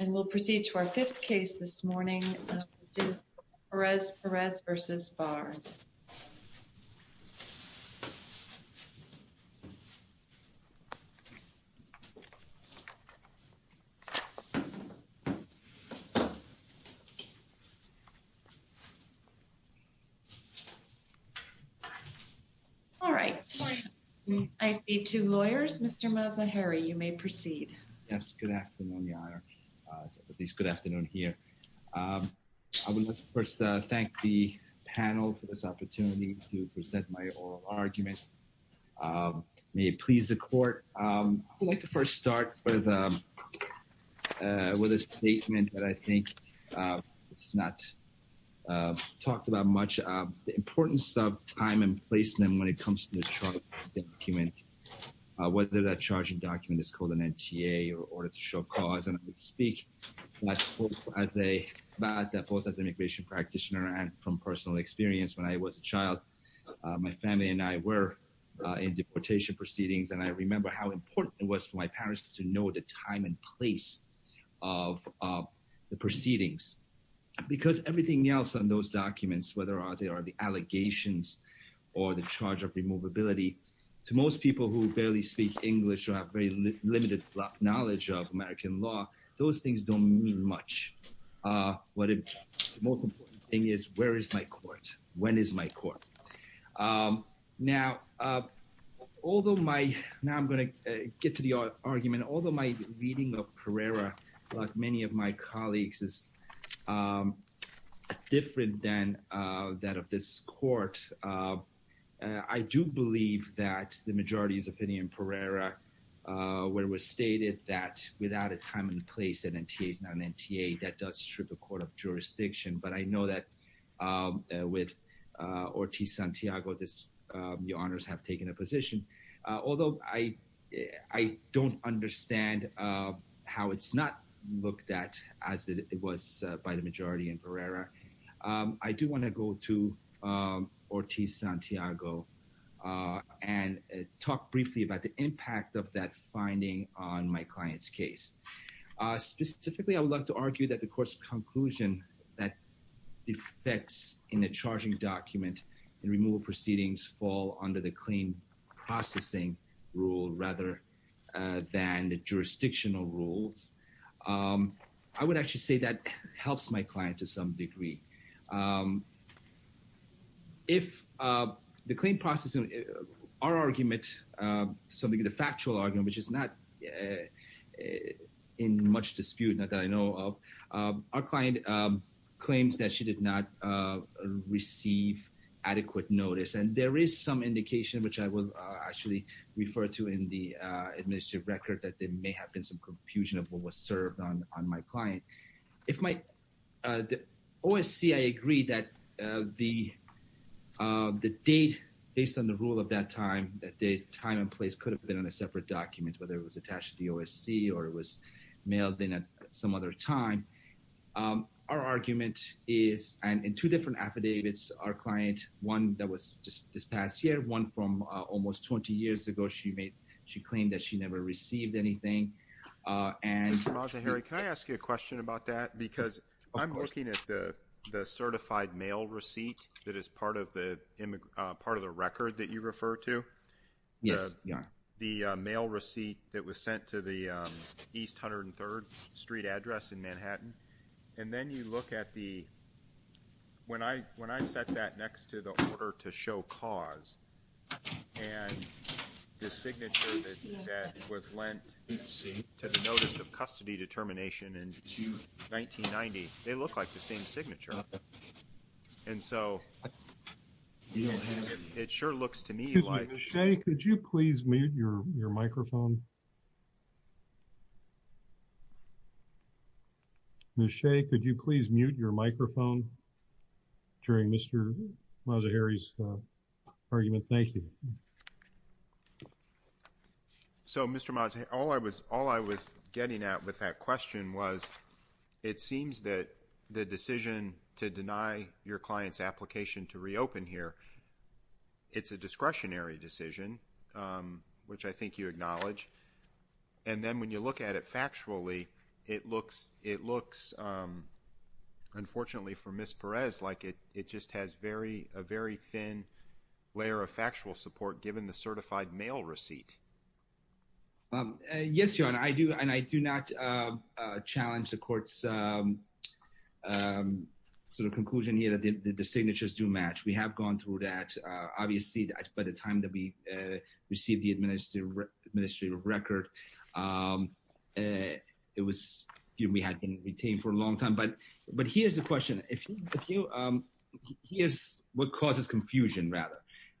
We will proceed to our fifth case this morning, Mr. Perez-Perez v. Barr. All right. I see two lawyers. Mr. Mazahiri, you may proceed. Yes, good afternoon, Your Honor. At least good afternoon here. I would like to first thank the panel for this opportunity to present my oral argument. May it please the court. I would like to first start with a statement that I think is not talked about much. And the importance of time and placement when it comes to the charging document, whether that charging document is called an NTA or an order to show cause. And I speak as a, both as an immigration practitioner and from personal experience. When I was a child, my family and I were in deportation proceedings, and I remember how important it was for my parents to know the time and place of the proceedings. Because everything else on those documents, whether they are the allegations or the charge of removability, to most people who barely speak English or have very limited knowledge of American law, those things don't mean much. But the most important thing is, where is my court? When is my court? Now, although my, now I'm going to get to the argument, although my reading of Pereira, like many of my colleagues, is different than that of this court. I do believe that the majority's opinion in Pereira, where it was stated that without a time and place, an NTA is not an NTA, that does strip a court of jurisdiction. But I know that with Ortiz-Santiago, the honors have taken a position. Although I don't understand how it's not looked at as it was by the majority in Pereira, I do want to go to Ortiz-Santiago and talk briefly about the impact of that finding on my client's case. Specifically, I would like to argue that the court's conclusion that defects in a charging document in removal proceedings fall under the claim processing rule rather than the jurisdictional rules. I would actually say that helps my client to some degree. If the claim processing, our argument, something of the factual argument, which is not in much dispute, not that I know of, our client claims that she did not receive adequate notice. And there is some indication, which I will actually refer to in the administrative record, that there may have been some confusion of what was served on my client. OSC, I agree that the date, based on the rule of that time, that the time and place could have been on a separate document, whether it was attached to the OSC or it was mailed in at some other time. Our argument is, and in two different affidavits, our client, one that was just this past year, one from almost 20 years ago, she claimed that she never received anything. Mr. Mazzaheri, can I ask you a question about that? Of course. Because I'm looking at the certified mail receipt that is part of the record that you refer to. Yes, you are. The mail receipt that was sent to the East 103rd Street address in Manhattan. And then you look at the, when I set that next to the order to show cause, and the signature that was lent to the Notice of Custody Determination in June 1990, they look like the same signature. And so, it sure looks to me like... Ms. Shea, could you please mute your microphone? Ms. Shea, could you please mute your microphone during Mr. Mazzaheri's argument? Thank you. So, Mr. Mazzaheri, all I was getting at with that question was, it seems that the decision to deny your client's application to reopen here, it's a discretionary decision, which I think you acknowledge. And then when you look at it factually, it looks, unfortunately for Ms. Perez, like it just has a very thin layer of factual support given the certified mail receipt. Yes, Your Honor. And I do not challenge the Court's sort of conclusion here that the signatures do match. We have gone through that. Obviously, by the time that we received the administrative record, it was, we had been retained for a long time. But here's the question. Here's what causes confusion, rather.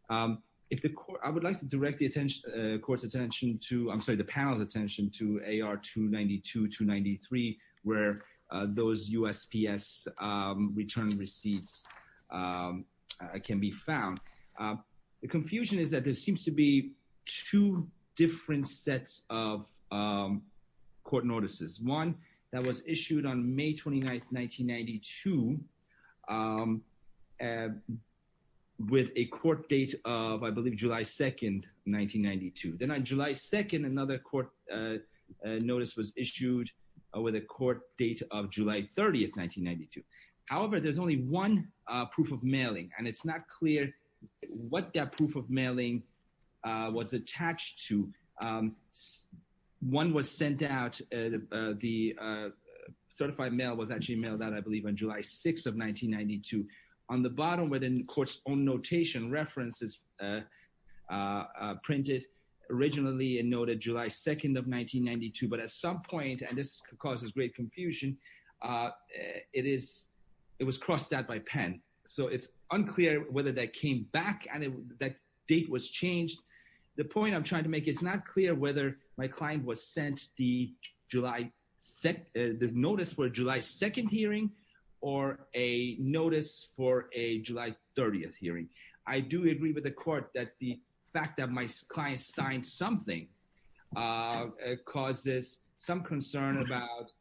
I would like to direct the Court's attention to, I'm sorry, the panel's attention to AR 292-293, where those USPS return receipts can be found. The confusion is that there seems to be two different sets of court notices. One that was issued on May 29th, 1992, with a court date of, I believe, July 2nd, 1992. Then on July 2nd, another court notice was issued with a court date of July 30th, 1992. However, there's only one proof of mailing, and it's not clear what that proof of mailing was attached to. One was sent out, the certified mail was actually mailed out, I believe, on July 6th of 1992. On the bottom, within the Court's own notation, references printed originally and noted July 2nd of 1992. But at some point, and this causes great confusion, it is, it was crossed out by pen. So it's unclear whether that came back and that date was changed. The point I'm trying to make, it's not clear whether my client was sent the July, the notice for a July 2nd hearing or a notice for a July 30th hearing. I do agree with the Court that the fact that my client signed something causes some concern about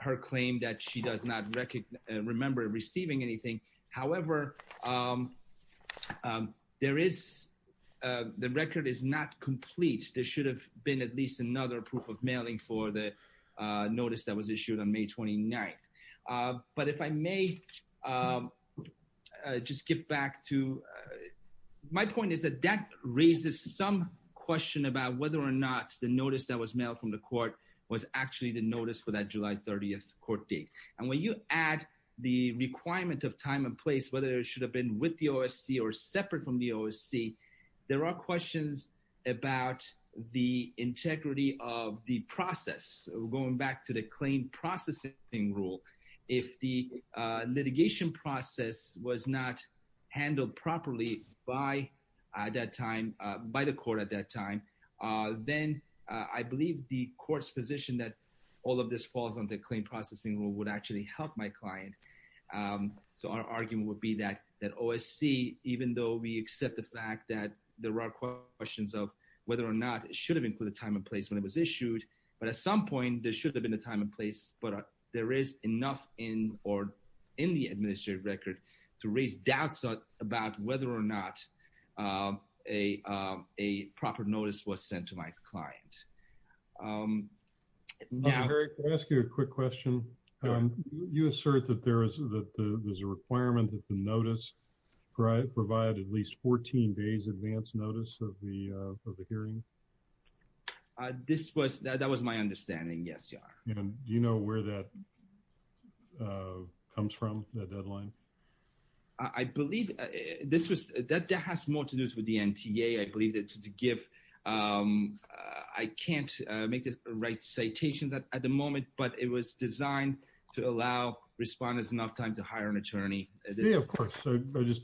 her claim that she does not remember receiving anything. However, there is, the record is not complete. There should have been at least another proof of mailing for the notice that was issued on May 29th. But if I may just get back to, my point is that that raises some question about whether or not the notice that was mailed from the Court was actually the notice for that July 30th court date. And when you add the requirement of time and place, whether it should have been with the OSC or separate from the OSC, there are questions about the integrity of the process. Going back to the claim processing rule, if the litigation process was not handled properly by that time, by the Court at that time, then I believe the Court's position that all of this falls on the claim processing rule would actually help my client. So our argument would be that OSC, even though we accept the fact that there are questions of whether or not it should have included time and place when it was issued, but at some point there should have been a time and place, but there is enough in or in the administrative record to raise doubts about whether or not a proper notice was sent to my client. Yeah. Eric, can I ask you a quick question? Sure. You assert that there is a requirement that the notice provide at least 14 days advance notice of the hearing? This was, that was my understanding, yes, Your Honor. And do you know where that comes from, that deadline? I believe this was, that has more to do with the NTA. I believe that to give, I can't make the right citations at the moment, but it was designed to allow responders enough time to hire an attorney. Yeah, of course. I just,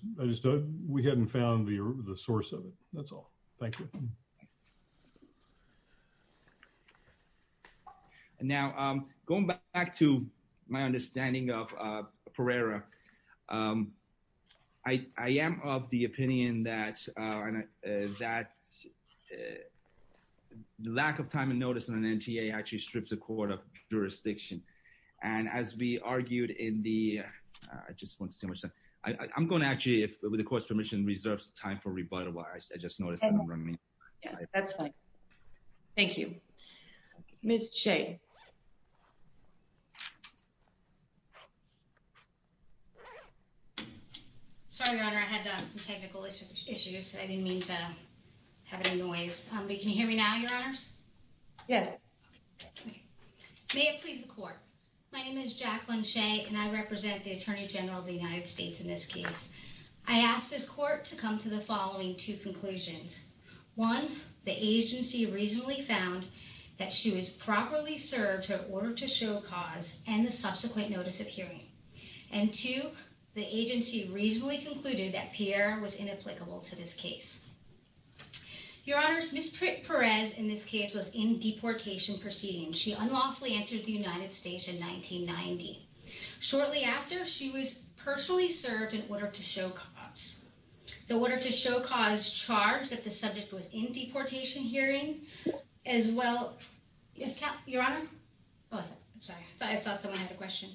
we hadn't found the source of it. That's all. Thank you. Now, going back to my understanding of Pereira, I am of the opinion that lack of time and notice in an NTA actually strips a court of jurisdiction. And as we argued in the, I just want to say, I'm going to actually, if the court's permission reserves time for rebuttal, I just noticed that I'm running late. That's fine. Thank you. Ms. Chay. Sorry, Your Honor, I had some technical issues. I didn't mean to have any noise. Can you hear me now, Your Honors? Yes. May it please the court. My name is Jacqueline Chay, and I represent the Attorney General of the United States in this case. I ask this court to come to the following two conclusions. One, the agency reasonably found that she was properly served her order to show cause and the subsequent notice of hearing. And two, the agency reasonably concluded that Pereira was inapplicable to this case. Your Honors, Ms. Pérez, in this case, was in deportation proceedings. She unlawfully entered the United States in 1990. Shortly after, she was personally served an order to show cause. The order to show cause charged that the subject was in deportation hearing as well. Yes, Your Honor? Oh, I'm sorry. I thought I saw someone had a question.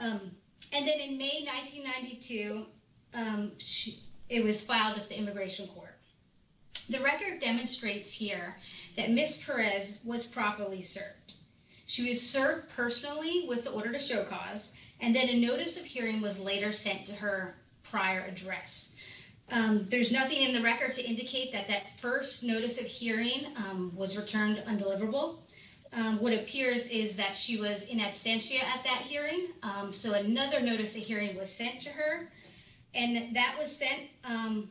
And then in May 1992, it was filed with the Immigration Court. The record demonstrates here that Ms. Pérez was properly served. She was served personally with the order to show cause, and then a notice of hearing was later sent to her prior address. There's nothing in the record to indicate that that first notice of hearing was returned undeliverable. What appears is that she was in absentia at that hearing, so another notice of hearing was sent to her. And that was sent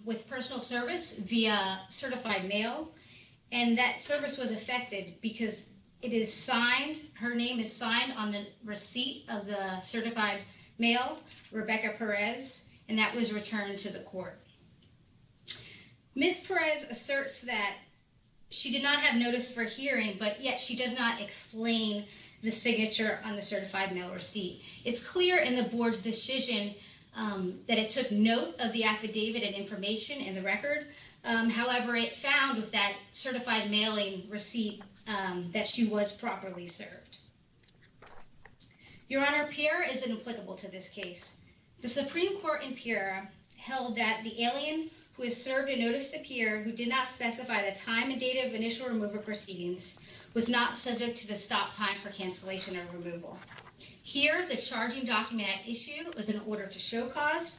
with personal service via certified mail, and that service was affected because it is signed. Her name is signed on the receipt of the certified mail, Rebecca Pérez, and that was returned to the court. Ms. Pérez asserts that she did not have notice for hearing, but yet she does not explain the signature on the certified mail receipt. It's clear in the board's decision that it took note of the affidavit and information in the record. However, it found with that certified mailing receipt that she was properly served. Your Honor, Pierre is inapplicable to this case. The Supreme Court in Pierre held that the alien who has served a notice to Pierre who did not specify the time and date of initial removal proceedings was not subject to the stop time for cancellation or removal. Here, the charging document at issue was an order to show cause,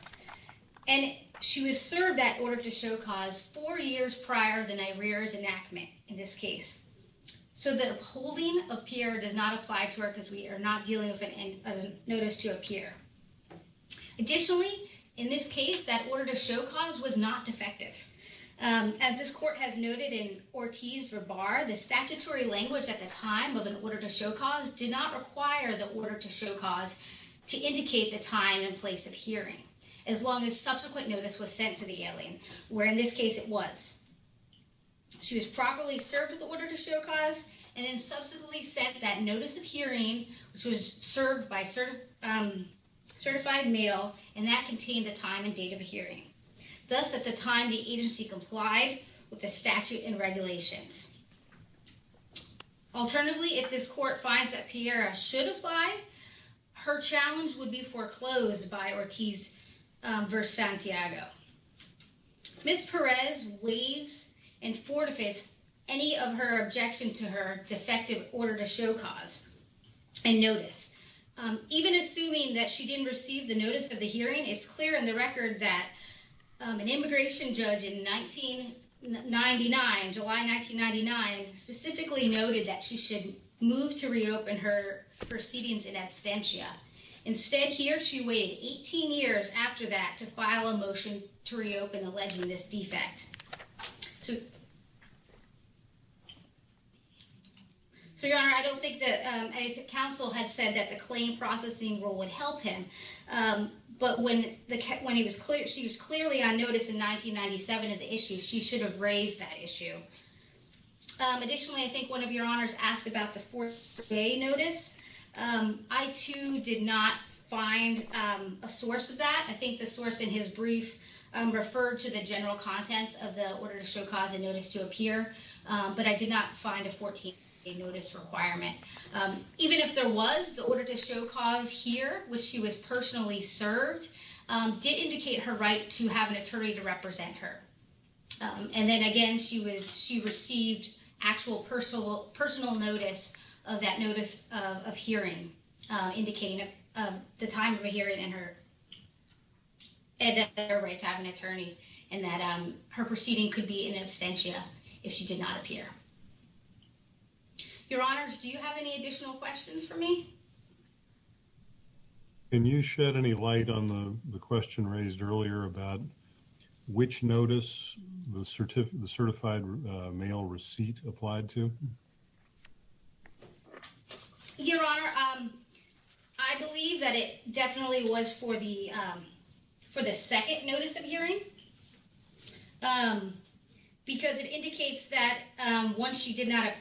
and she was served that order to show cause four years prior to the Nairere's enactment in this case. So the upholding of Pierre does not apply to her because we are not dealing with a notice to a Pierre. Additionally, in this case, that order to show cause was not defective. As this court has noted in Ortiz v. Barr, the statutory language at the time of an order to show cause did not require the order to show cause to indicate the time and place of hearing, as long as subsequent notice was sent to the alien, where in this case it was. She was properly served with the order to show cause and then subsequently sent that notice of hearing, which was served by certified mail, and that contained the time and date of hearing. Thus, at the time, the agency complied with the statute and regulations. Alternatively, if this court finds that Pierre should apply, her challenge would be foreclosed by Ortiz v. Santiago. Ms. Perez waives and forfeits any of her objections to her defective order to show cause and notice. Even assuming that she didn't receive the notice of the hearing, it's clear in the record that an immigration judge in July 1999 specifically noted that she should move to reopen her proceedings in absentia. Instead, here, she waited 18 years after that to file a motion to reopen, alleging this defect. So, Your Honor, I don't think that counsel had said that the claim processing role would help him. But when he was clear, she was clearly on notice in 1997 of the issue. She should have raised that issue. Additionally, I think one of your honors asked about the fourth day notice. I, too, did not find a source of that. I think the source in his brief referred to the general contents of the order to show cause and notice to appear. But I did not find a 14-day notice requirement. Even if there was, the order to show cause here, which she was personally served, did indicate her right to have an attorney to represent her. And then again, she received actual personal notice of that notice of hearing, indicating the time of hearing and her right to have an attorney, and that her proceeding could be in absentia if she did not appear. Your Honors, do you have any additional questions for me? Can you shed any light on the question raised earlier about which notice the certified mail receipt applied to? Your Honor, I believe that it definitely was for the second notice of hearing. Because it indicates that the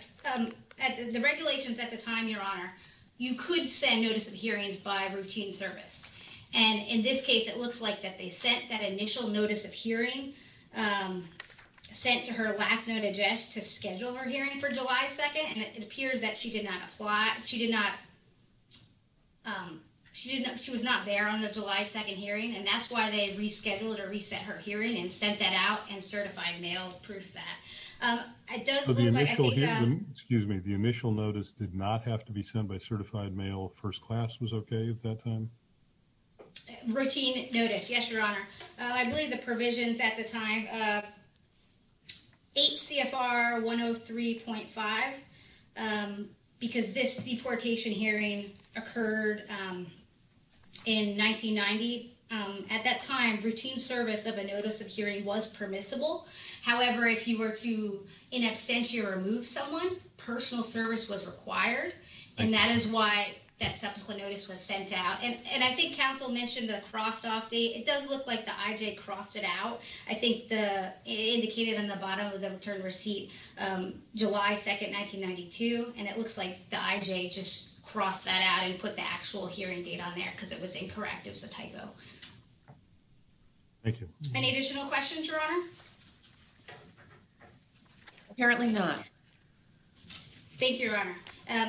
regulations at the time, Your Honor, you could send notice of hearings by routine service. And in this case, it looks like that they sent that initial notice of hearing, sent to her last note address to schedule her hearing for July 2nd, and it appears that she was not there on the July 2nd hearing. And that's why they rescheduled or reset her hearing and sent that out, and certified mail proofs that. Excuse me, the initial notice did not have to be sent by certified mail. First class was okay at that time? Routine notice, yes, Your Honor. I believe the provisions at the time, 8 CFR 103.5, because this deportation hearing occurred in 1990. At that time, routine service of a notice of hearing was permissible. However, if you were to in absentia remove someone, personal service was required. And that is why that subsequent notice was sent out. And I think counsel mentioned the crossed off date. It does look like the IJ crossed it out. I think the indicated on the bottom of the return receipt, July 2nd, 1992. And it looks like the IJ just crossed that out and put the actual hearing date on there because it was incorrect. It was a typo. Thank you. Any additional questions, Your Honor? Apparently not. Thank you, Your Honor.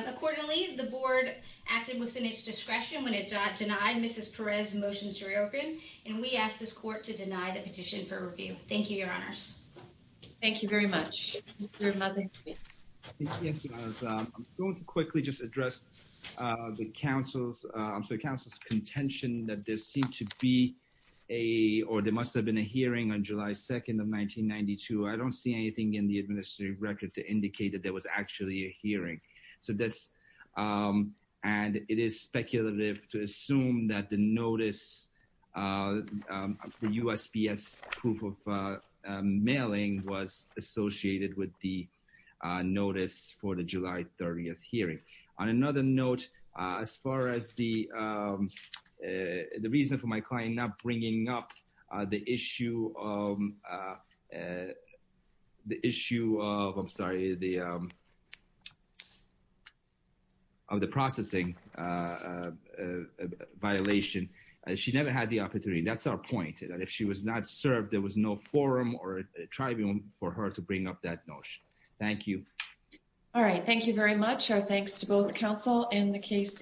Accordingly, the board acted within its discretion when it denied Mrs. Perez's motion to reopen. And we ask this court to deny the petition for review. Thank you, Your Honors. Thank you very much. I'm going to quickly just address the counsel's contention that there seemed to be a, or there must have been a hearing on July 2nd of 1992. I don't see anything in the administrative record to indicate that there was actually a hearing. So that's, and it is speculative to assume that the notice, the USPS proof of mailing was associated with the notice for the July 30th hearing. On another note, as far as the reason for my client not bringing up the issue of the processing violation, she never had the opportunity. That's our point, that if she was not served, there was no forum or tribune for her to bring up that notion. Thank you. All right. Thank you very much. Our thanks to both counsel and the case is adjourned.